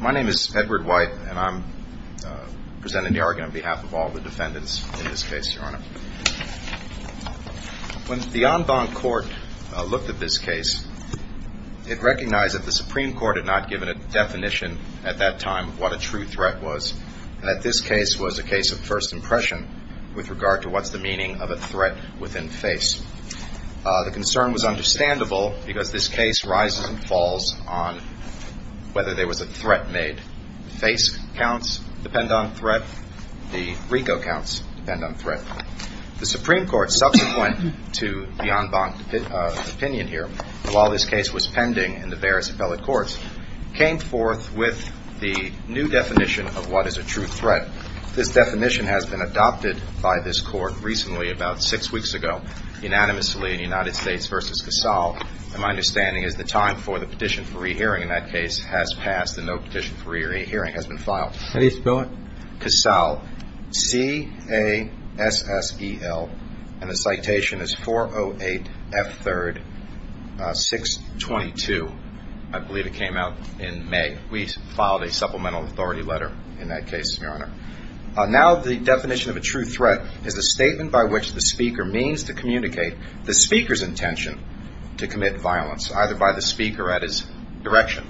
My name is Edward White and I'm presenting the argument on behalf of all the defendants in this case, Your Honor. When the en banc court looked at this case, it recognized that the Supreme Court had not given a definition at that time of what a true threat was. And that this case was a case of first impression with regard to what's the meaning of a threat within face. The concern was understandable because this case rises and falls on whether there was a threat made. Face counts depend on threat. The RICO counts depend on threat. The Supreme Court, subsequent to the en banc opinion here, while this case was pending in the various appellate courts, came forth with the new definition of what is a true threat. This definition has been adopted by this court recently, about six weeks ago, unanimously in United States v. Casal. And my understanding is the time for the petition for re-hearing in that case has passed and no petition for re-hearing has been filed. How do you spell it? Casal. C-A-S-S-E-L. And the citation is 408 F. 3rd 622. I believe it came out in May. We filed a supplemental authority letter in that case, Your Honor. Now the definition of a true threat is a statement by which the speaker means to communicate the speaker's intention to commit violence, either by the speaker or at his direction.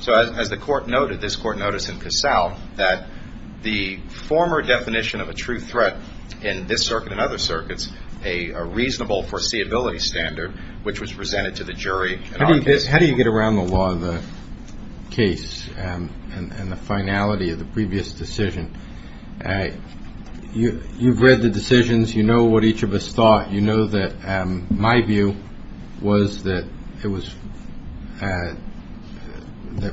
So as the court noted, this court noticed in Casal that the former definition of a true threat in this circuit and other circuits, a reasonable foreseeability standard which was presented to the jury in our case. How do you get around the law of the case and the finality of the previous decision? You've read the decisions. You know what each of us thought. You know that my view was that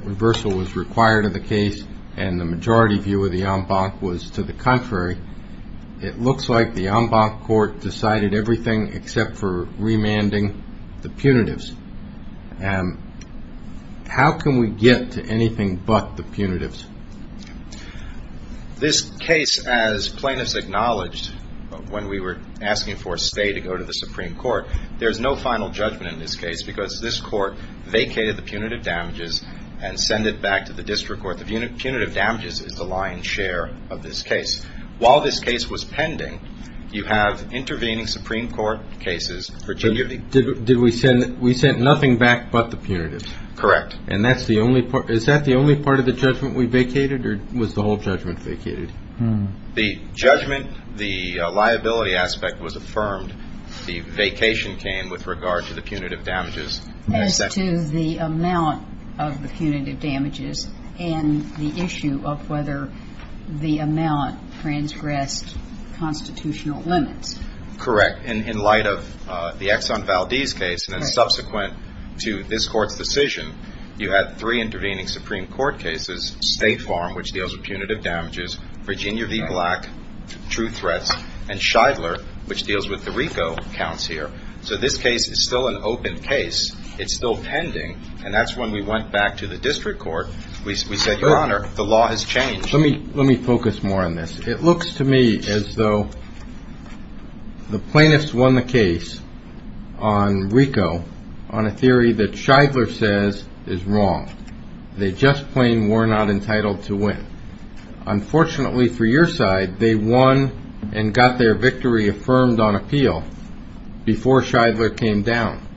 reversal was required of the case and the majority view of the en banc was to the contrary. It looks like the en banc court decided everything except for remanding the punitives. How can we get to anything but the punitives? This case, as plaintiffs acknowledged when we were asking for a stay to go to the Supreme Court, there's no final judgment in this case because this court vacated the punitive damages and sent it back to the district court. The punitive damages is the lion's share of this case. While this case was pending, you have intervening Supreme Court cases. Did we send nothing back but the punitives? Correct. Is that the only part of the judgment we vacated or was the whole judgment vacated? The judgment, the liability aspect was affirmed. The vacation came with regard to the punitive damages. As to the amount of the punitive damages and the issue of whether the amount transgressed constitutional limits. Correct. In light of the Exxon Valdez case and subsequent to this court's decision, you had three intervening Supreme Court cases, State Farm, which deals with punitive damages, Virginia v. Black, true threats, and Shidler, which deals with the RICO counts here. So this case is still an open case. It's still pending, and that's when we went back to the district court. We said, Your Honor, the law has changed. Let me focus more on this. It looks to me as though the plaintiffs won the case on RICO on a theory that Shidler says is wrong. They just plain were not entitled to win. Unfortunately for your side, they won and got their victory affirmed on appeal before Shidler came down.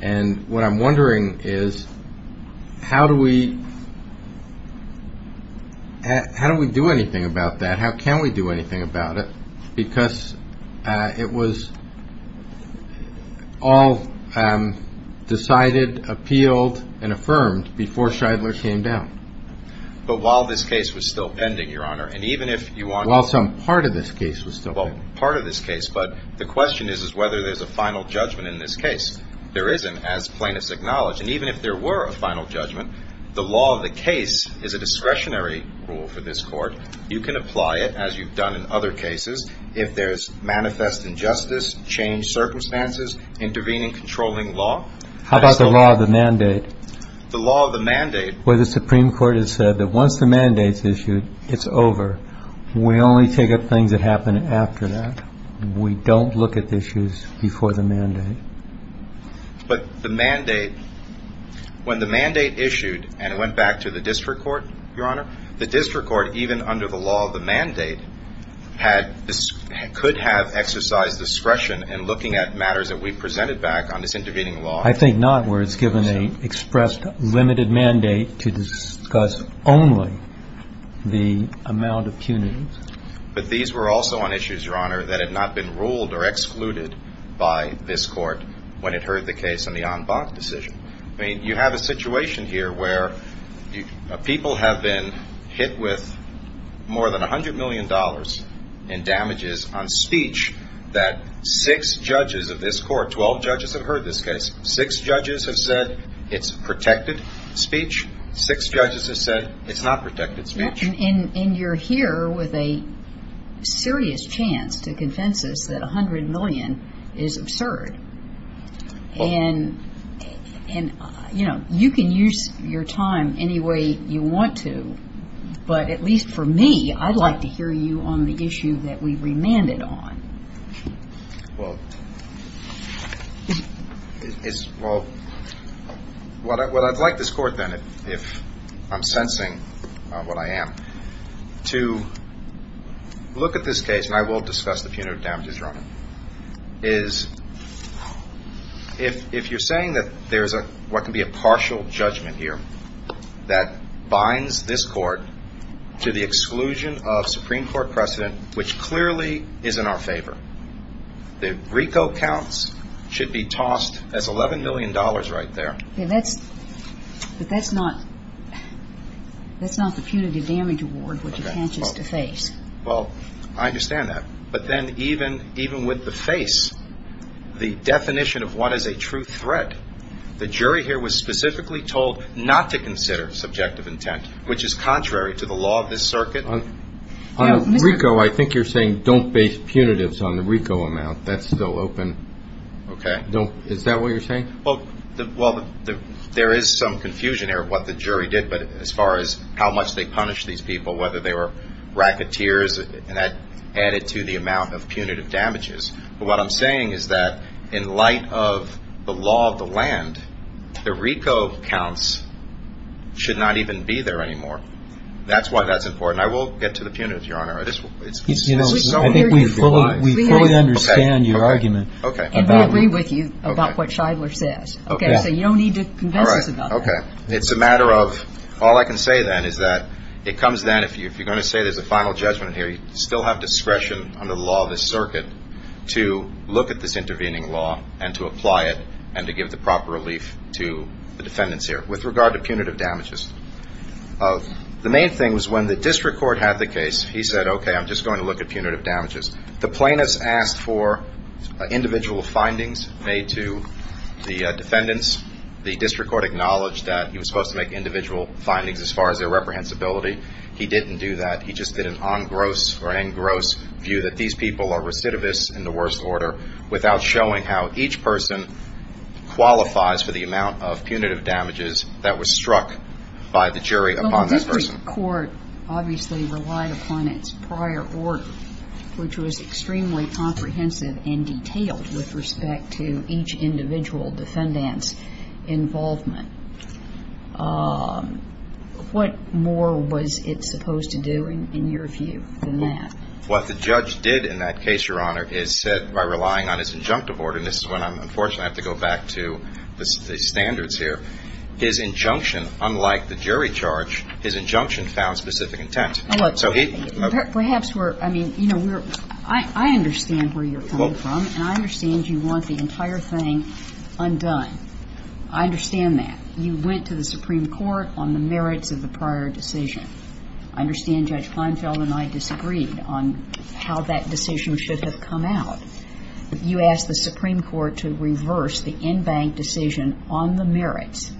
And what I'm wondering is how do we do anything about that? How can we do anything about it? Because it was all decided, appealed, and affirmed before Shidler came down. But while this case was still pending, Your Honor, and even if you want to While some part of this case was still pending. Part of this case. But the question is whether there's a final judgment in this case. There isn't, as plaintiffs acknowledge. And even if there were a final judgment, the law of the case is a discretionary rule for this court. You can apply it, as you've done in other cases, if there's manifest injustice, changed circumstances, intervening, controlling law. How about the law of the mandate? The law of the mandate. Where the Supreme Court has said that once the mandate's issued, it's over. We only take up things that happen after that. We don't look at issues before the mandate. But the mandate, when the mandate issued and went back to the district court, Your Honor, the district court, even under the law of the mandate, could have exercised discretion in looking at matters that we presented back on this intervening law. I think not, where it's given an expressed limited mandate to discuss only the amount of punitive. But these were also on issues, Your Honor, that had not been ruled or excluded by this court when it heard the case on the en banc decision. I mean, you have a situation here where people have been hit with more than $100 million in damages on speech that six judges of this court, 12 judges, have heard this case. Six judges have said it's protected speech. Six judges have said it's not protected speech. And you're here with a serious chance to convince us that $100 million is absurd. And, you know, you can use your time any way you want to. But at least for me, I'd like to hear you on the issue that we remanded on. Well, it's – well, what I'd like this court, then, if I'm sensing what I am, to look at this case, and I will discuss the punitive damages, Your Honor, is if you're saying that there's what could be a partial judgment here that binds this court to the exclusion of Supreme Court precedent, which clearly is in our favor. The RICO counts should be tossed as $11 million right there. Yeah, that's – but that's not – that's not the punitive damage award which it catches to face. Well, I understand that. But then even with the face, the definition of what is a true threat, the jury here was specifically told not to consider subjective intent, which is contrary to the law of this circuit. Now, RICO, I think you're saying don't base punitives on the RICO amount. That's still open. Okay. Don't – is that what you're saying? Well, there is some confusion here of what the jury did, but as far as how much they punished these people, whether they were racketeers, and that added to the amount of punitive damages. But what I'm saying is that in light of the law of the land, the RICO counts should not even be there anymore. That's why that's important. I will get to the punitive, Your Honor. This is so – I think we fully understand your argument. Okay. And we agree with you about what Shidler says. Okay. So you don't need to convince us about that. All right. Okay. It's a matter of – all I can say then is that it comes down to if you're going to say there's a final judgment here, we still have discretion under the law of this circuit to look at this intervening law and to apply it and to give the proper relief to the defendants here with regard to punitive damages. The main thing was when the district court had the case, he said, okay, I'm just going to look at punitive damages. The plaintiffs asked for individual findings made to the defendants. The district court acknowledged that he was supposed to make individual findings as far as their reprehensibility. He didn't do that. He just did an engrossed view that these people are recidivists in the worst order without showing how each person qualifies for the amount of punitive damages that were struck by the jury upon this person. Well, the district court obviously relied upon its prior order, which was extremely comprehensive and detailed with respect to each individual defendant's involvement. What more was it supposed to do in your view than that? What the judge did in that case, Your Honor, is said by relying on his injunctive order. And this is one I'm unfortunate I have to go back to the standards here. His injunction, unlike the jury charge, his injunction found specific intent. So he – Perhaps we're – I mean, you know, we're – I understand where you're coming from, and I understand you want the entire thing undone. I understand that. You went to the Supreme Court on the merits of the prior decision. I understand Judge Kleinfeld and I disagreed on how that decision should have come out. You asked the Supreme Court to reverse the in-bank decision on the merits.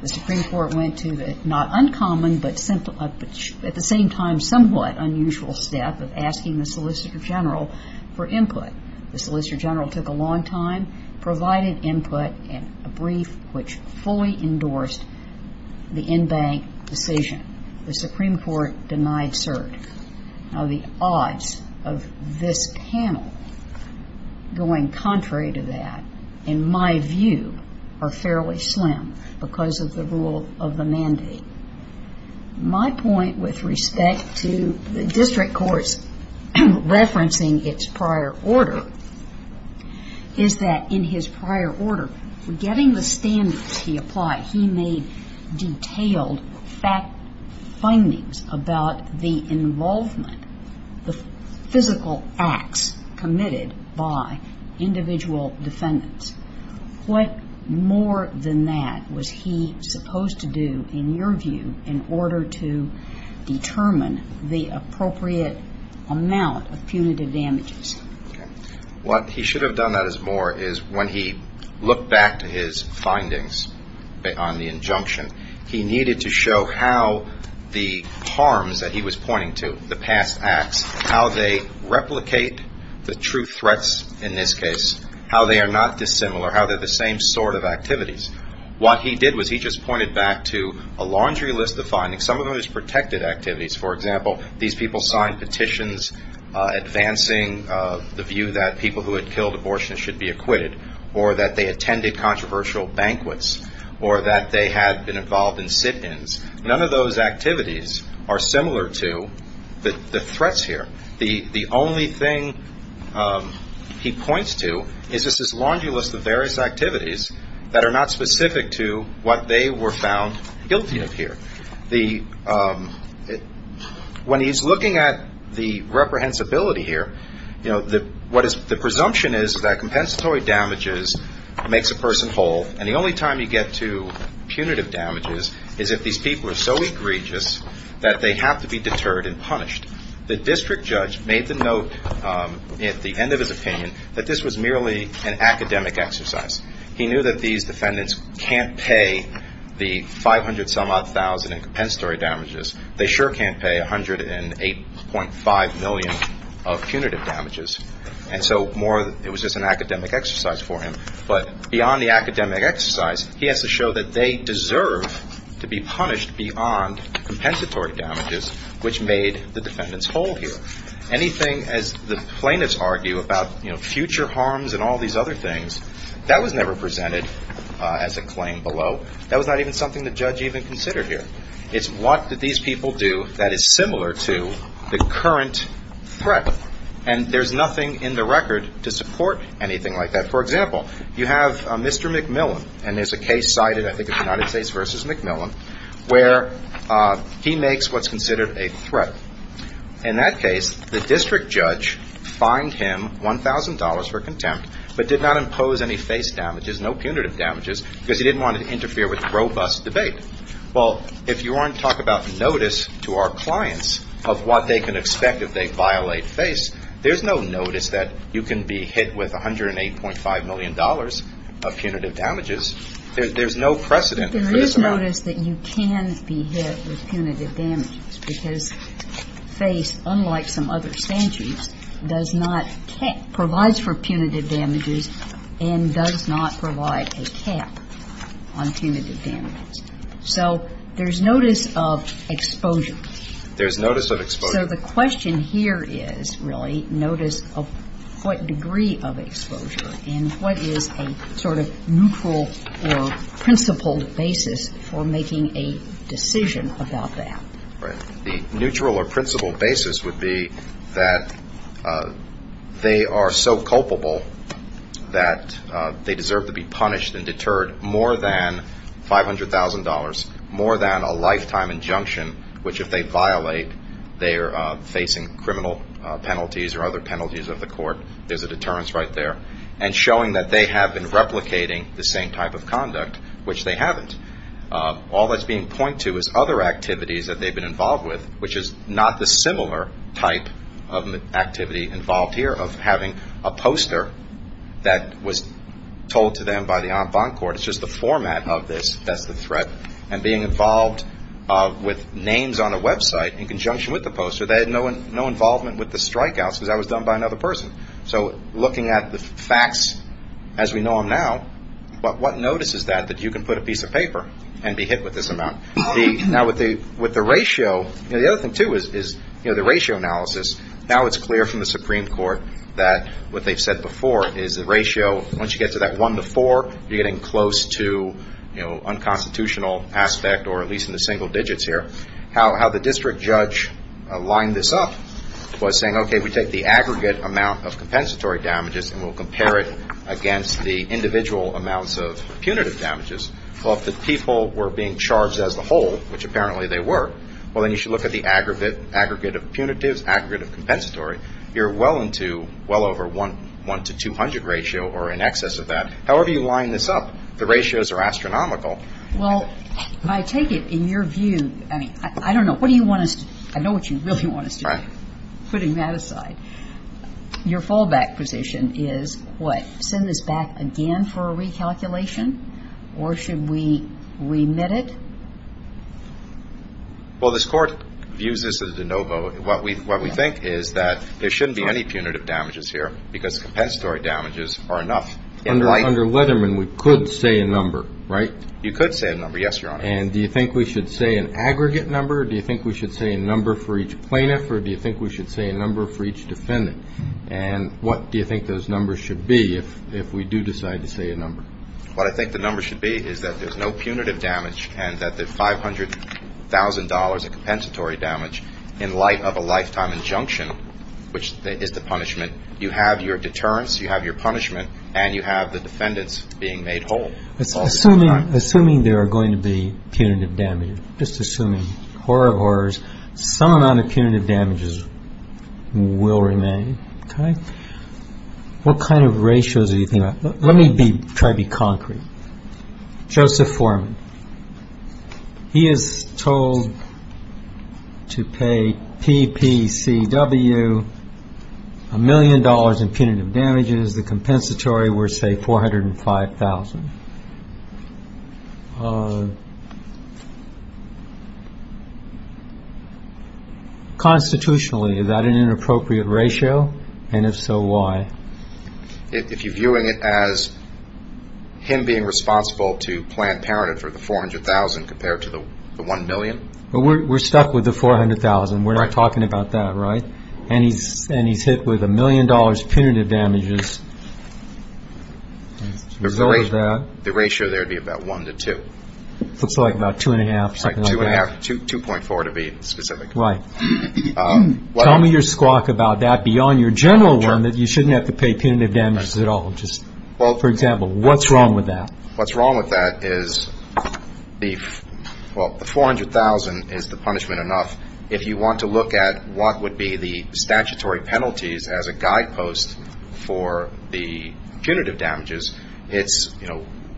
The Supreme Court went to the not uncommon but at the same time somewhat unusual step of asking the Solicitor General for input. The Solicitor General took a long time, provided input, and a brief which fully endorsed the in-bank decision. The Supreme Court denied cert. Now, the odds of this panel going contrary to that, in my view, are fairly slim because of the rule of the mandate. My point with respect to the district courts referencing its prior order is that in his prior order, getting the standards he applied, he made detailed findings about the involvement, the physical acts committed by individual defendants. What more than that was he supposed to do, in your view, in order to determine the appropriate amount of punitive damages? What he should have done that is more is when he looked back to his findings on the injunction, he needed to show how the harms that he was pointing to, the past acts, how they replicate the true threats in this case, how they are not dissimilar, how they're the same sort of activities. What he did was he just pointed back to a laundry list of findings, some of those protected activities. For example, these people signed petitions advancing the view that people who had killed abortionists should be acquitted or that they attended controversial banquets or that they had been involved in sit-ins. None of those activities are similar to the threats here. The only thing he points to is just this laundry list of various activities that are not specific to what they were found guilty of here. When he's looking at the reprehensibility here, the presumption is that compensatory damages makes a person whole, and the only time you get to punitive damages is if these people are so egregious that they have to be deterred and punished. The district judge made the note at the end of his opinion that this was merely an academic exercise. He knew that these defendants can't pay the 500-some-odd thousand in compensatory damages. They sure can't pay 108.5 million of punitive damages. And so more it was just an academic exercise for him. But beyond the academic exercise, he has to show that they deserve to be punished beyond compensatory damages, which made the defendants whole here. Anything, as the plaintiffs argue, about future harms and all these other things, that was never presented as a claim below. That was not even something the judge even considered here. It's what did these people do that is similar to the current threat. And there's nothing in the record to support anything like that. For example, you have Mr. McMillan, and there's a case cited, I think, of the United States v. McMillan, where he makes what's considered a threat. In that case, the district judge fined him $1,000 for contempt but did not impose any face damages, no punitive damages, because he didn't want to interfere with robust debate. Well, if you want to talk about notice to our clients of what they can expect if they violate face, there's no notice that you can be hit with $108.5 million of punitive damages. There's no precedent for this amount. There is notice that you can be hit with punitive damages because face, unlike some other statutes, does not provide for punitive damages and does not provide a cap on punitive damages. So there's notice of exposure. There's notice of exposure. So the question here is really notice of what degree of exposure and what is a sort of neutral or principled basis for making a decision about that. Right. The neutral or principled basis would be that they are so culpable that they deserve to be punished and deterred more than $500,000, more than a lifetime injunction, which if they violate they are facing criminal penalties or other penalties of the court. There's a deterrence right there. And showing that they have been replicating the same type of conduct, which they haven't. All that's being pointed to is other activities that they've been involved with, which is not the similar type of activity involved here, of having a poster that was told to them by the en banc court. It's just the format of this that's the threat. And being involved with names on a website in conjunction with the poster. They had no involvement with the strikeouts because that was done by another person. So looking at the facts as we know them now, what notice is that that you can put a piece of paper and be hit with this amount? Now, with the ratio, the other thing, too, is the ratio analysis. Now it's clear from the Supreme Court that what they've said before is the ratio, once you get to that one to four, you're getting close to unconstitutional aspect or at least in the single digits here. How the district judge lined this up was saying, okay, we take the aggregate amount of compensatory damages and we'll compare it against the individual amounts of punitive damages. Well, if the people were being charged as the whole, which apparently they were, well, then you should look at the aggregate of punitives, aggregate of compensatory. You're well into well over 1 to 200 ratio or in excess of that. However you line this up, the ratios are astronomical. Well, I take it in your view, I mean, I don't know. What do you want us to do? I know what you really want us to do, putting that aside. Your fallback position is what? Send this back again for a recalculation? Or should we remit it? Well, this Court views this as a de novo. What we think is that there shouldn't be any punitive damages here because compensatory damages are enough. Under Leatherman, we could say a number, right? You could say a number, yes, Your Honor. And do you think we should say an aggregate number? Do you think we should say a number for each plaintiff or do you think we should say a number for each defendant? And what do you think those numbers should be if we do decide to say a number? What I think the number should be is that there's no punitive damage and that the $500,000 of compensatory damage, in light of a lifetime injunction, which is the punishment, you have your deterrence, you have your punishment, and you have the defendants being made whole. Assuming there are going to be punitive damages, just assuming, horror of horrors, some amount of punitive damages will remain, okay? What kind of ratios are you thinking about? Let me try to be concrete. Joseph Foreman, he is told to pay PPCW a million dollars in punitive damages. The compensatory were, say, $405,000. Constitutionally, is that an inappropriate ratio? And if so, why? If you're viewing it as him being responsible to plan parented for the $400,000 compared to the $1 million? We're stuck with the $400,000. We're not talking about that, right? And he's hit with a million dollars punitive damages as a result of that. The ratio there would be about one to two. Looks like about two and a half, something like that. Two and a half, 2.4 to be specific. Right. Tell me your squawk about that beyond your general one, that you shouldn't have to pay punitive damages at all. For example, what's wrong with that? What's wrong with that is the $400,000 is the punishment enough. If you want to look at what would be the statutory penalties as a guidepost for the punitive damages, it's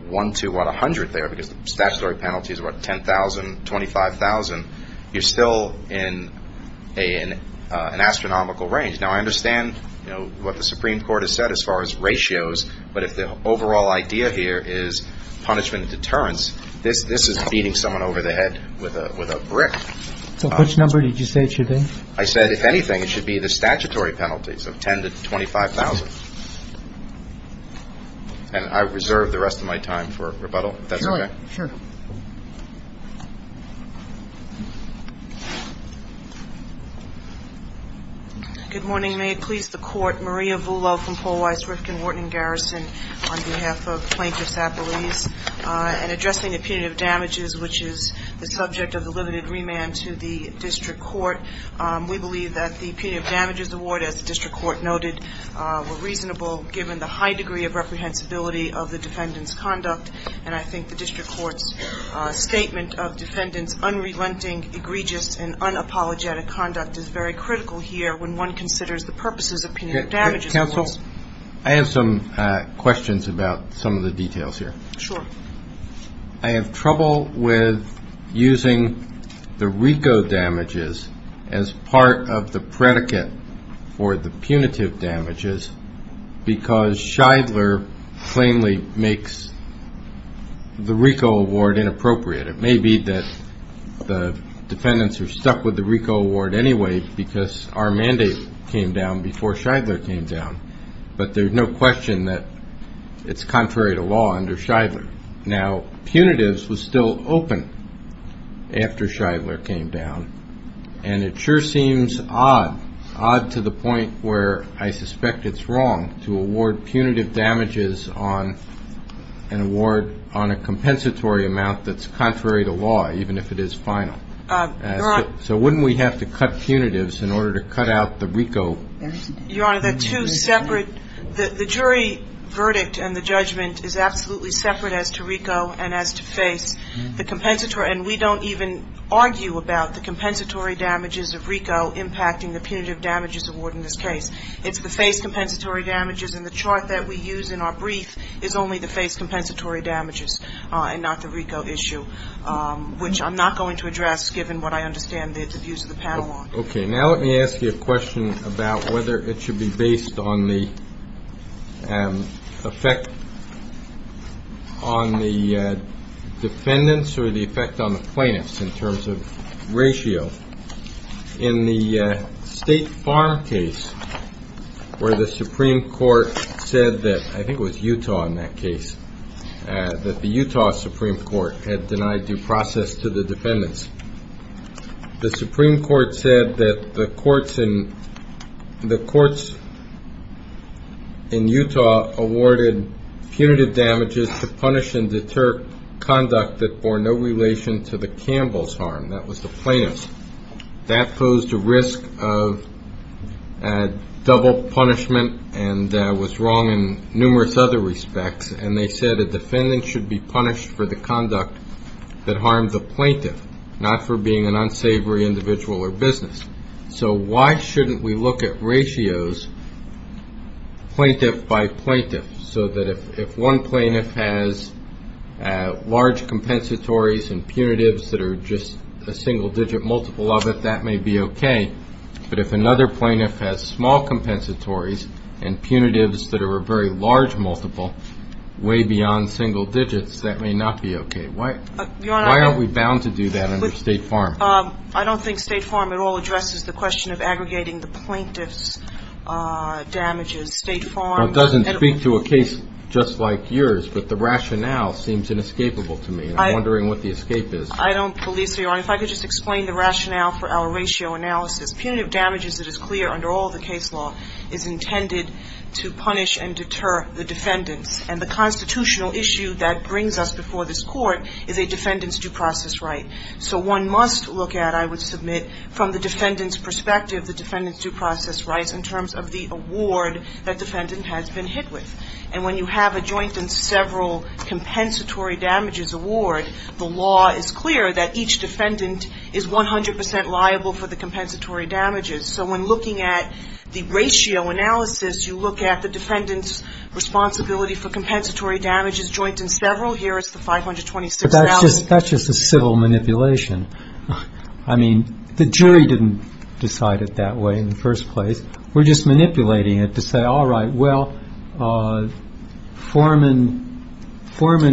one to 100 there, because the statutory penalties are about 10,000, 25,000. You're still in an astronomical range. Now, I understand what the Supreme Court has said as far as ratios, but if the overall idea here is punishment and deterrence, this is beating someone over the head with a brick. Which number did you say it should be? I said, if anything, it should be the statutory penalties of 10,000 to 25,000. And I reserve the rest of my time for rebuttal, if that's okay. Sure. Good morning. May it please the Court. Maria Vullo from Paul Weiss Rifkin Wharton Garrison on behalf of Plaintiffs Appellees. In addressing the punitive damages, which is the subject of the limited remand to the district court, we believe that the punitive damages award, as the district court noted, were reasonable given the high degree of reprehensibility of the defendant's conduct. And I think the district court's statement of defendant's unrelenting, egregious and unapologetic conduct is very critical here when one considers the purposes of punitive damages awards. Counsel, I have some questions about some of the details here. Sure. I have trouble with using the RICO damages as part of the predicate for the punitive damages because Shidler plainly makes the RICO award inappropriate. It may be that the defendants are stuck with the RICO award anyway because our mandate came down before Shidler came down, but there's no question that it's contrary to law under Shidler. Now, punitives was still open after Shidler came down, and it sure seems odd, odd to the point where I suspect it's wrong to award punitive damages on an award on a compensatory amount that's contrary to law, even if it is final. So wouldn't we have to cut punitives in order to cut out the RICO? Your Honor, they're two separate. The jury verdict and the judgment is absolutely separate as to RICO and as to face the compensatory. And we don't even argue about the compensatory damages of RICO impacting the punitive damages award in this case. It's the face compensatory damages, and the chart that we use in our brief is only the face compensatory damages and not the RICO issue, which I'm not going to address given what I understand the views of the panel on. Okay. Now let me ask you a question about whether it should be based on the effect on the defendants or the effect on the plaintiffs in terms of ratio. In the State Farm case where the Supreme Court said that, I think it was Utah in that case, that the Utah Supreme Court had denied due process to the defendants, the Supreme Court said that the courts in Utah awarded punitive damages to punish and deter conduct that bore no relation to the Campbell's harm. That was the plaintiff's. That posed a risk of double punishment and was wrong in numerous other respects, and they said a defendant should be punished for the conduct that harmed the plaintiff, not for being an unsavory individual or business. So why shouldn't we look at ratios, plaintiff by plaintiff, so that if one plaintiff has large compensatories and punitives that are just a single digit multiple of it, that may be okay. But if another plaintiff has small compensatories and punitives that are a very large multiple, way beyond single digits, that may not be okay. Why aren't we bound to do that under State Farm? I don't think State Farm at all addresses the question of aggregating the plaintiff's damages. It doesn't speak to a case just like yours, but the rationale seems inescapable to me. I'm wondering what the escape is. I don't believe so, Your Honor. If I could just explain the rationale for our ratio analysis. Punitive damages, it is clear under all the case law, is intended to punish and deter the defendants, and the constitutional issue that brings us before this Court is a defendant's due process right. So one must look at, I would submit, from the defendant's perspective, the defendant's due process rights in terms of the award that defendant has been hit with. And when you have a joint and several compensatory damages award, the law is clear that each defendant is 100 percent liable for the compensatory damages. So when looking at the ratio analysis, you look at the defendant's responsibility for compensatory damages joint and several. Here is the 526,000. But that's just a civil manipulation. I mean, the jury didn't decide it that way in the first place. We're just manipulating it to say, all right, well, Foreman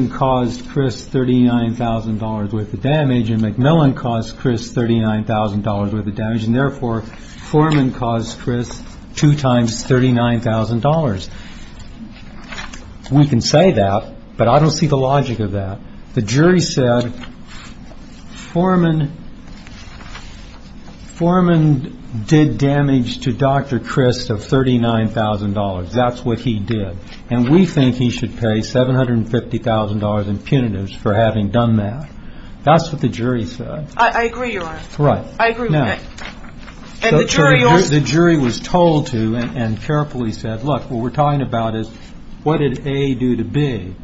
caused Chris $39,000 worth of damage, and McMillan caused Chris $39,000 worth of damage, and therefore Foreman caused Chris two times $39,000. We can say that, but I don't see the logic of that. The jury said Foreman did damage to Dr. Chris of $39,000. That's what he did. And we think he should pay $750,000 in punitives for having done that. That's what the jury said. I agree, Your Honor. Right. I agree with that. So the jury was told to and carefully said, look, what we're talking about is what did A do to B.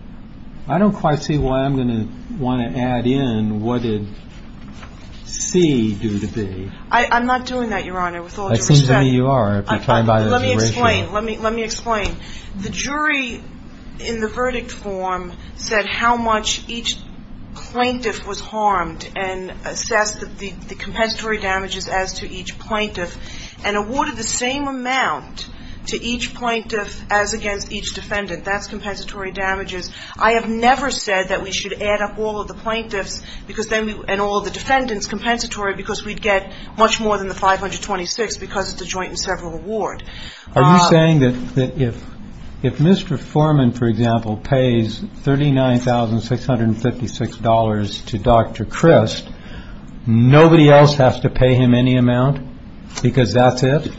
I don't quite see why I'm going to want to add in what did C do to B. I'm not doing that, Your Honor, with all due respect. It seems to me you are. Let me explain. Let me explain. The jury in the verdict form said how much each plaintiff was harmed and assessed the compensatory damages as to each plaintiff and awarded the same amount to each plaintiff as against each defendant. That's compensatory damages. I have never said that we should add up all of the plaintiffs and all of the defendants compensatory because we'd get much more than the 526 because of the joint and several award. Are you saying that if Mr. Foreman, for example, pays $39,656 to Dr. Chris, nobody else has to pay him any amount because that's it?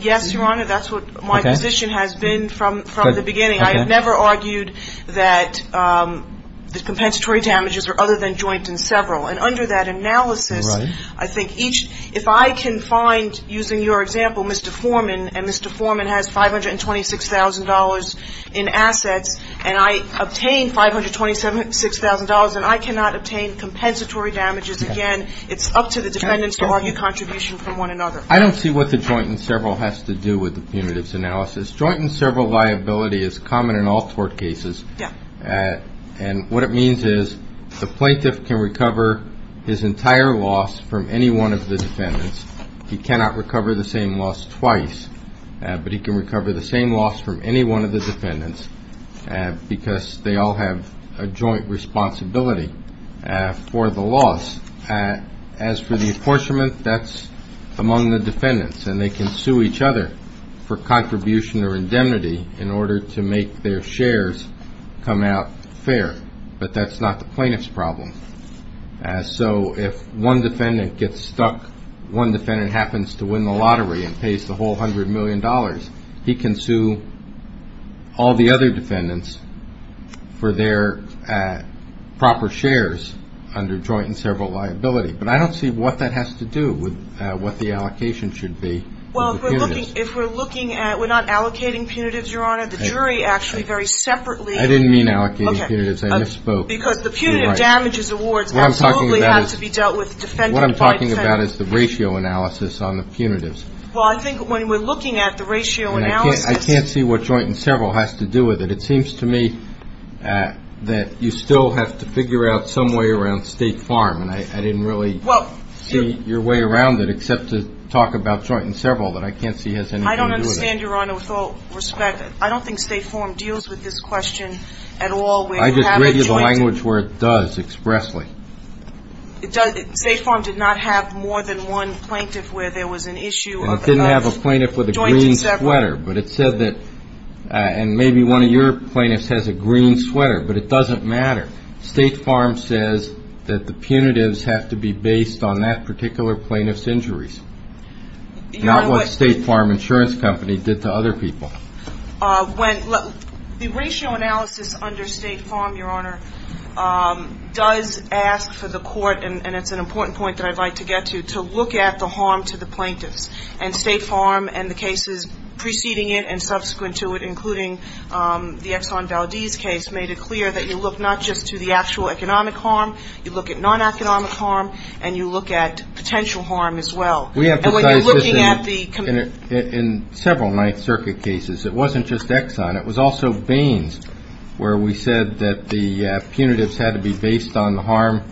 Yes, Your Honor. That's what my position has been from the beginning. I have never argued that the compensatory damages are other than joint and several. And under that analysis, I think if I can find, using your example, Mr. Foreman, and Mr. Foreman has $526,000 in assets and I obtain $526,000 and I cannot obtain compensatory damages again, it's up to the defendants to argue contribution from one another. I don't see what the joint and several has to do with the punitive analysis. The joint and several liability is common in all tort cases. And what it means is the plaintiff can recover his entire loss from any one of the defendants. He cannot recover the same loss twice, but he can recover the same loss from any one of the defendants because they all have a joint responsibility for the loss. As for the apportionment, that's among the defendants, and they can sue each other for contribution or indemnity in order to make their shares come out fair. But that's not the plaintiff's problem. So if one defendant gets stuck, one defendant happens to win the lottery and pays the whole $100 million, he can sue all the other defendants for their proper shares under joint and several liability. But I don't see what that has to do with what the allocation should be. Well, if we're looking at we're not allocating punitives, Your Honor. The jury actually very separately. I didn't mean allocating punitives. I misspoke. Because the punitive damages awards absolutely have to be dealt with defendant-by-defendant. What I'm talking about is the ratio analysis on the punitives. Well, I think when we're looking at the ratio analysis. I can't see what joint and several has to do with it. It seems to me that you still have to figure out some way around State Farm, and I didn't really see your way around it except to talk about joint and several that I can't see has anything to do with it. I don't understand, Your Honor, with all respect. I don't think State Farm deals with this question at all. I just read you the language where it does expressly. State Farm did not have more than one plaintiff where there was an issue of joint and several. Well, it didn't have a plaintiff with a green sweater. And maybe one of your plaintiffs has a green sweater, but it doesn't matter. State Farm says that the punitives have to be based on that particular plaintiff's injuries, not what State Farm Insurance Company did to other people. The ratio analysis under State Farm, Your Honor, does ask for the court, and it's an important point that I'd like to get to, to look at the harm to the plaintiffs. And State Farm and the cases preceding it and subsequent to it, including the Exxon Valdez case, made it clear that you look not just to the actual economic harm, you look at non-economic harm, and you look at potential harm as well. We emphasize this in several Ninth Circuit cases. It wasn't just Exxon. It was also Baines where we said that the punitives had to be based on the harm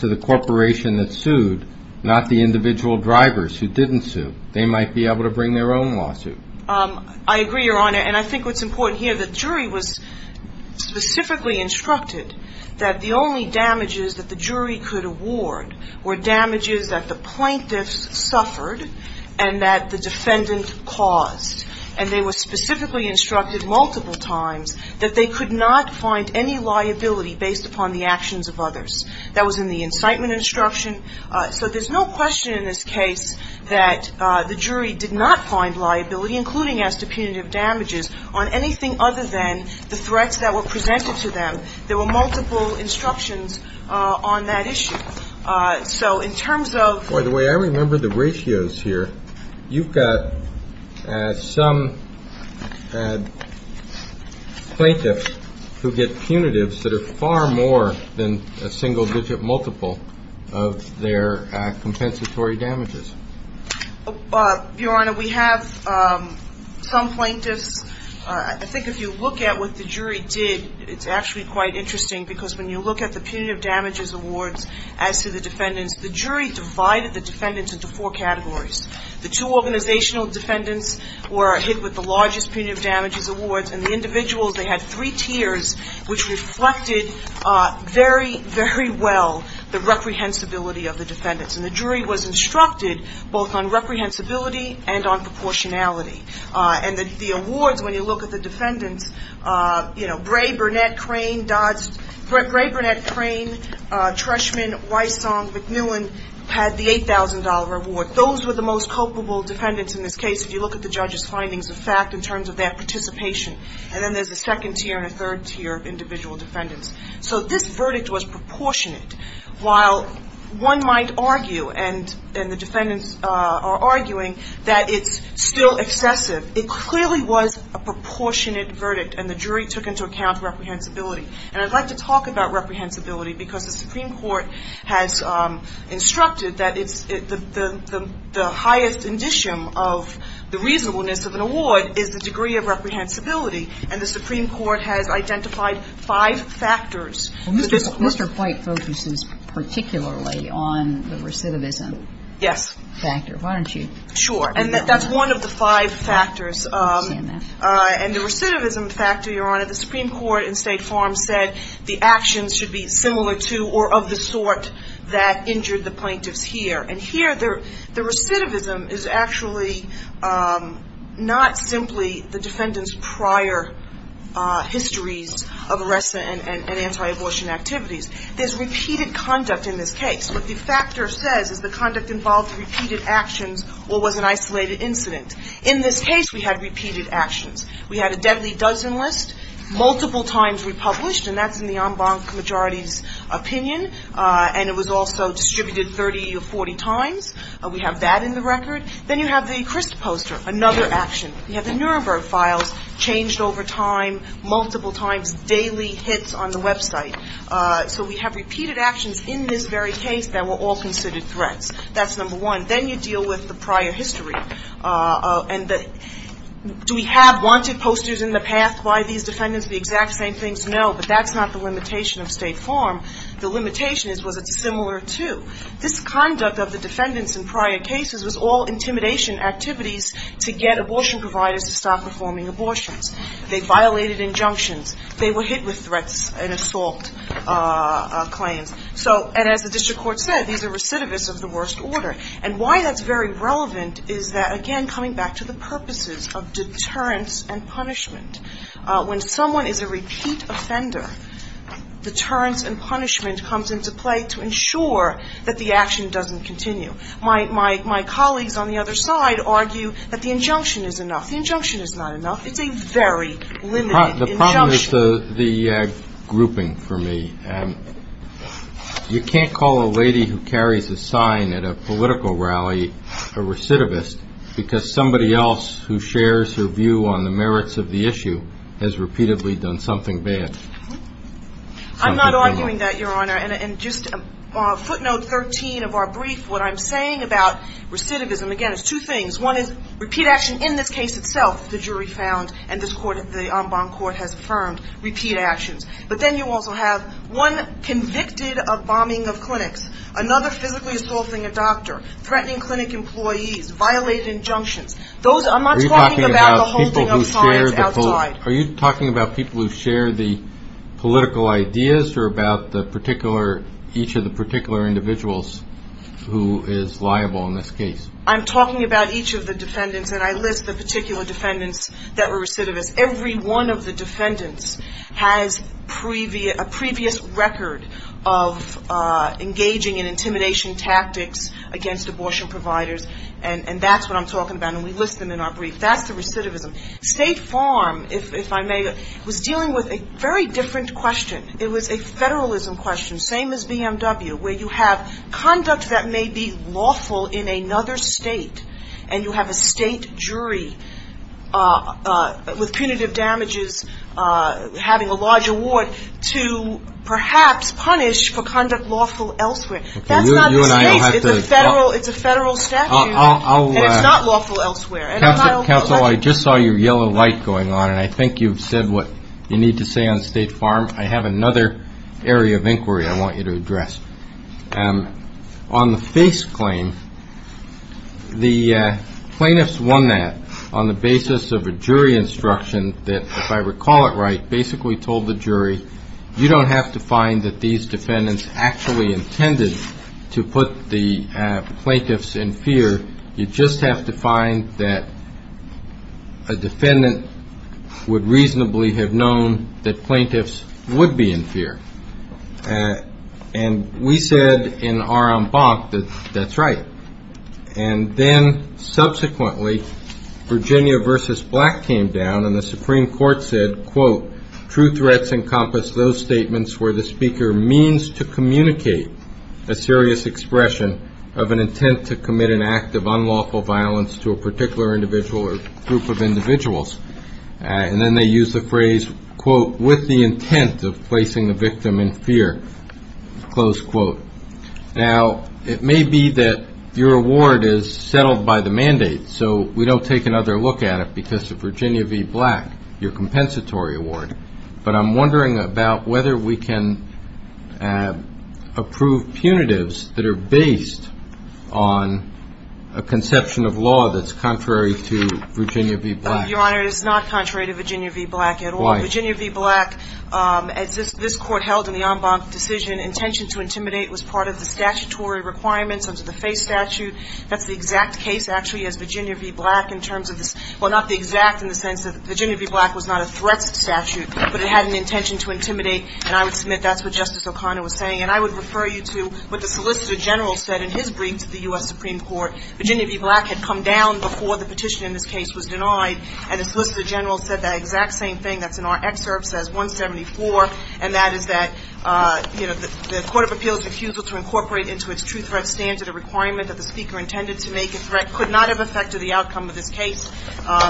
to the corporation that sued, not the individual drivers who didn't sue. They might be able to bring their own lawsuit. I agree, Your Honor. And I think what's important here, the jury was specifically instructed that the only damages that the jury could award were damages that the plaintiffs suffered and that the defendant caused. And they were specifically instructed multiple times that they could not find any liability based upon the actions of others. That was in the incitement instruction. So there's no question in this case that the jury did not find liability, including as to punitive damages, on anything other than the threats that were presented to them. There were multiple instructions on that issue. So in terms of the way I remember the ratios here, you've got some plaintiffs who get punitives that are far more than a single digit multiple of their compensatory damages. Your Honor, we have some plaintiffs. I think if you look at what the jury did, it's actually quite interesting because when you look at the punitive damages awards as to the defendants, the jury divided the defendants into four categories. The two organizational defendants were hit with the largest punitive damages awards. And the individuals, they had three tiers, which reflected very, very well the reprehensibility of the defendants. And the jury was instructed both on reprehensibility and on proportionality. And the awards, when you look at the defendants, you know, Bray, Burnett, Crane, Dodds, Nolan had the $8,000 award. Those were the most culpable defendants in this case if you look at the judge's findings of fact in terms of their participation. And then there's a second tier and a third tier of individual defendants. So this verdict was proportionate. While one might argue, and the defendants are arguing, that it's still excessive, it clearly was a proportionate verdict, and the jury took into account reprehensibility. And I'd like to talk about reprehensibility because the Supreme Court has instructed that it's the highest indicium of the reasonableness of an award is the degree of reprehensibility. And the Supreme Court has identified five factors. Kagan. Mr. White focuses particularly on the recidivism. Yes. Factor, why don't you? Sure. And that's one of the five factors. I understand that. And the recidivism factor, Your Honor, the Supreme Court in State Farm said the actions should be similar to or of the sort that injured the plaintiffs here. And here the recidivism is actually not simply the defendant's prior histories of arrest and anti-abortion activities. There's repeated conduct in this case. What the factor says is the conduct involved repeated actions or was an isolated incident. In this case, we had repeated actions. We had a deadly dozen list, multiple times republished, and that's in the en banc majority's opinion. And it was also distributed 30 or 40 times. We have that in the record. Then you have the crisp poster, another action. You have the Nuremberg files changed over time, multiple times, daily hits on the Web site. So we have repeated actions in this very case that were all considered threats. That's number one. Then you deal with the prior history. And do we have wanted posters in the past? Why are these defendants the exact same things? No, but that's not the limitation of State Farm. The limitation is was it similar to. This conduct of the defendants in prior cases was all intimidation activities to get abortion providers to stop performing abortions. They violated injunctions. They were hit with threats and assault claims. And as the district court said, these are recidivists of the worst order. And why that's very relevant is that, again, coming back to the purposes of deterrence and punishment. When someone is a repeat offender, deterrence and punishment comes into play to ensure that the action doesn't continue. My colleagues on the other side argue that the injunction is enough. The injunction is not enough. It's a very limited injunction. This one is the grouping for me. You can't call a lady who carries a sign at a political rally a recidivist because somebody else who shares her view on the merits of the issue has repeatedly done something bad. I'm not arguing that, Your Honor. And just footnote 13 of our brief, what I'm saying about recidivism, again, is two things. One is repeat action in this case itself, the jury found, and the En Bonne Court has affirmed, repeat actions. But then you also have one convicted of bombing of clinics, another physically assaulting a doctor, threatening clinic employees, violating injunctions. I'm not talking about the whole thing outside. Are you talking about people who share the political ideas or about each of the particular individuals who is liable in this case? I'm talking about each of the defendants, and I list the particular defendants that were recidivists. Every one of the defendants has a previous record of engaging in intimidation tactics against abortion providers, and that's what I'm talking about. And we list them in our brief. That's the recidivism. State Farm, if I may, was dealing with a very different question. It was a federalism question, same as BMW, where you have conduct that may be lawful in another state, and you have a state jury with punitive damages having a large award to perhaps punish for conduct lawful elsewhere. That's not the case. It's a federal statute, and it's not lawful elsewhere. Counsel, I just saw your yellow light going on, and I think you've said what you need to say on State Farm. I have another area of inquiry I want you to address. On the face claim, the plaintiffs won that on the basis of a jury instruction that, if I recall it right, basically told the jury you don't have to find that these defendants actually intended to put the plaintiffs in fear. You just have to find that a defendant would reasonably have known that plaintiffs would be in fear. And we said in our embark that that's right. And then, subsequently, Virginia v. Black came down, and the Supreme Court said, quote, where the speaker means to communicate a serious expression of an intent to commit an act of unlawful violence to a particular individual or group of individuals. And then they used the phrase, quote, with the intent of placing the victim in fear, close quote. Now, it may be that your award is settled by the mandate, so we don't take another look at it because of Virginia v. Black, your compensatory award. But I'm wondering about whether we can approve punitives that are based on a conception of law that's contrary to Virginia v. Black. Your Honor, it is not contrary to Virginia v. Black at all. Why? Virginia v. Black, as this Court held in the en banc decision, intention to intimidate was part of the statutory requirements under the FACE statute. That's the exact case, actually, as Virginia v. Black in terms of this — well, not the exact in the sense that Virginia v. Black was not a threats statute, but it had an intention to intimidate. And I would submit that's what Justice O'Connor was saying. And I would refer you to what the Solicitor General said in his brief to the U.S. Supreme Court. Virginia v. Black had come down before the petition in this case was denied, and the Solicitor General said that exact same thing. That's in our excerpt, says 174, and that is that, you know, the Court of Appeals' accusal to incorporate into its true threat standard a requirement that the speaker intended to make a threat could not have affected the outcome of this case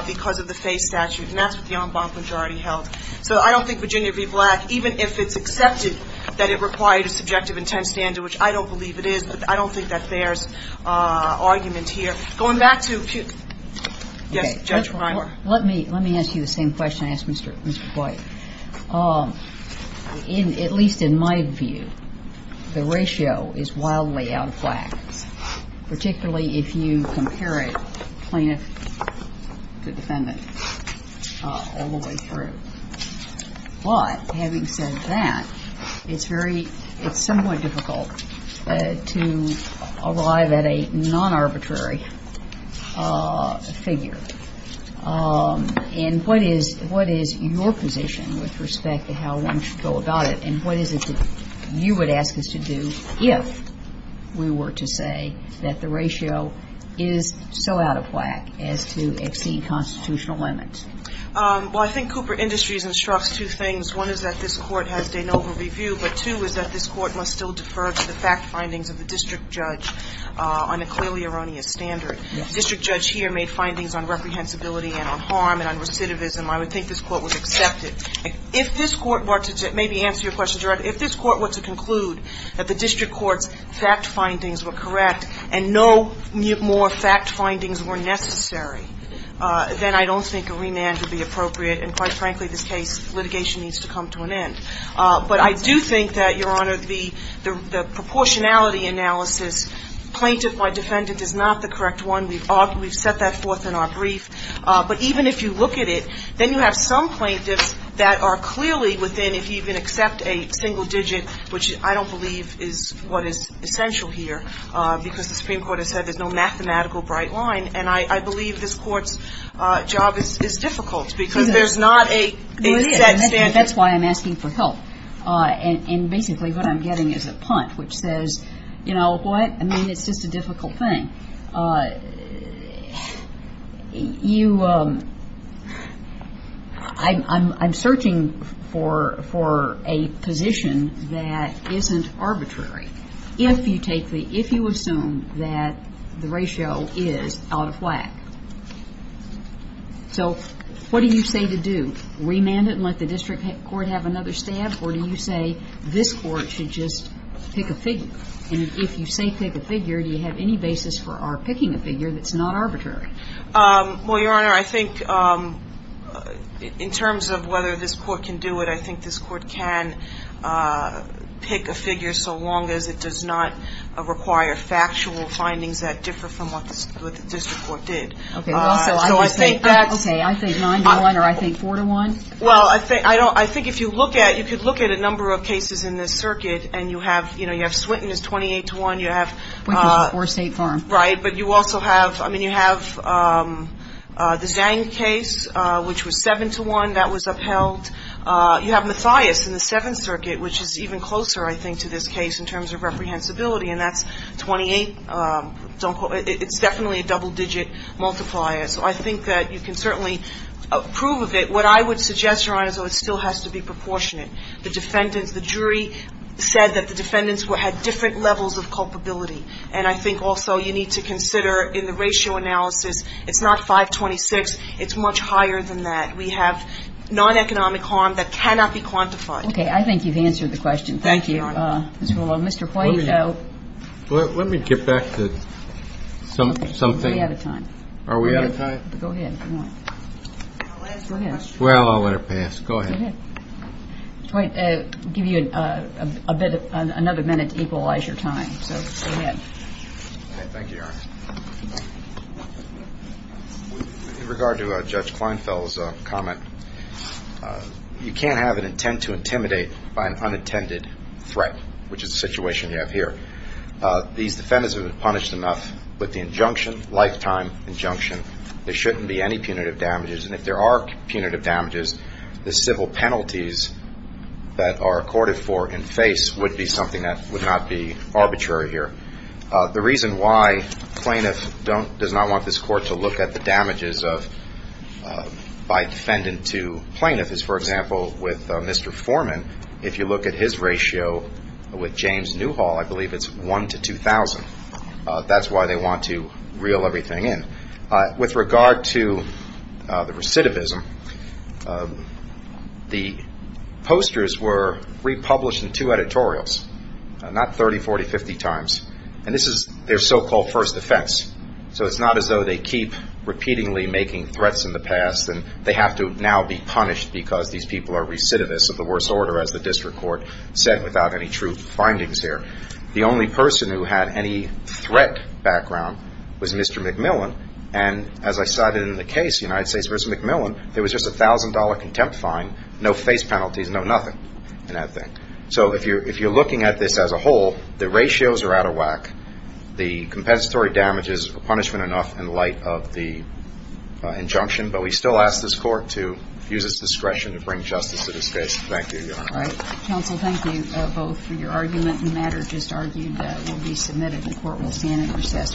because of the FACE statute. And that's what the en banc majority held. So I don't think Virginia v. Black, even if it's accepted that it required a subjective intent standard, which I don't believe it is, but I don't think that there's argument here. Going back to — yes, Judge Reimer. Let me ask you the same question I asked Mr. White. In — at least in my view, the ratio is wildly out of whack, particularly if you compare it, plaintiff to defendant, all the way through. But having said that, it's very — it's somewhat difficult to arrive at a non-arbitrary figure. And what is — what is your position with respect to how one should go about it, and what is it that you would ask us to do if we were to say that the ratio is so out of whack as to exceed constitutional limits? Well, I think Cooper Industries instructs two things. One is that this Court has de novo review, but two is that this Court must still district judge here made findings on reprehensibility and on harm and on recidivism. I would think this Court would accept it. If this Court were to — maybe answer your question, Judge Reimer. If this Court were to conclude that the district court's fact findings were correct and no more fact findings were necessary, then I don't think a remand would be appropriate. And quite frankly, this case, litigation needs to come to an end. But I do think that, Your Honor, the proportionality analysis, plaintiff by defendant, is not the correct one. We've set that forth in our brief. But even if you look at it, then you have some plaintiffs that are clearly within, if you even accept a single digit, which I don't believe is what is essential here, because the Supreme Court has said there's no mathematical bright line. And I believe this Court's job is difficult, because there's not a set standard. That's why I'm asking for help. And basically what I'm getting is a punt, which says, you know what, I mean, it's just a difficult thing. I mean, I'm searching for a position that isn't arbitrary. If you take the – if you assume that the ratio is out of whack. So what do you say to do? Remand it and let the district court have another stab? Or do you say this Court should just pick a figure? And if you say pick a figure, do you have any basis for picking a figure that's not arbitrary? Well, Your Honor, I think in terms of whether this Court can do it, I think this Court can pick a figure so long as it does not require factual findings that differ from what the district court did. Okay. So I think that – Okay. I think 9 to 1 or I think 4 to 1? Well, I think if you look at – you could look at a number of cases in this circuit and you have – you know, you have Swinton is 28 to 1. You have – Or State Farm. Right. But you also have – I mean, you have the Zhang case, which was 7 to 1. That was upheld. You have Mathias in the Seventh Circuit, which is even closer, I think, to this case in terms of reprehensibility. And that's 28 – it's definitely a double-digit multiplier. So I think that you can certainly approve of it. What I would suggest, Your Honor, is it still has to be proportionate. The defendants – the jury said that the defendants had different levels of culpability. And I think also you need to consider in the ratio analysis, it's not 5-26. It's much higher than that. We have non-economic harm that cannot be quantified. Okay. I think you've answered the question. Thank you, Your Honor. Mr. White, so – Let me get back to something. We're out of time. Are we out of time? Go ahead. Go ahead. Well, I'll let it pass. Go ahead. I'll give you a bit – another minute to equalize your time. So go ahead. Thank you, Your Honor. With regard to Judge Kleinfeld's comment, you can't have an intent to intimidate by an unintended threat, which is the situation you have here. These defendants have been punished enough with the injunction, lifetime injunction, there shouldn't be any punitive damages. And if there are punitive damages, the civil penalties that are accorded for and face would be something that would not be arbitrary here. The reason why plaintiff does not want this court to look at the damages by defendant to plaintiff is, for example, with Mr. Foreman. If you look at his ratio with James Newhall, I believe it's 1 to 2,000. That's why they want to reel everything in. With regard to the recidivism, the posters were republished in two editorials, not 30, 40, 50 times. And this is their so-called first offense. So it's not as though they keep repeatedly making threats in the past and they have to now be punished because these people are recidivists of the worst order, as the district court said, without any true findings here. The only person who had any threat background was Mr. McMillan. And as I cited in the case, United States v. McMillan, there was just a $1,000 contempt fine, no face penalties, no nothing in that thing. So if you're looking at this as a whole, the ratios are out of whack. The compensatory damages are punishment enough in light of the injunction, but we still ask this court to use its discretion to bring justice to this case. Thank you, Your Honor. All right. Counsel, thank you both for your argument. The matter just argued will be submitted and the court will stand at recess for today.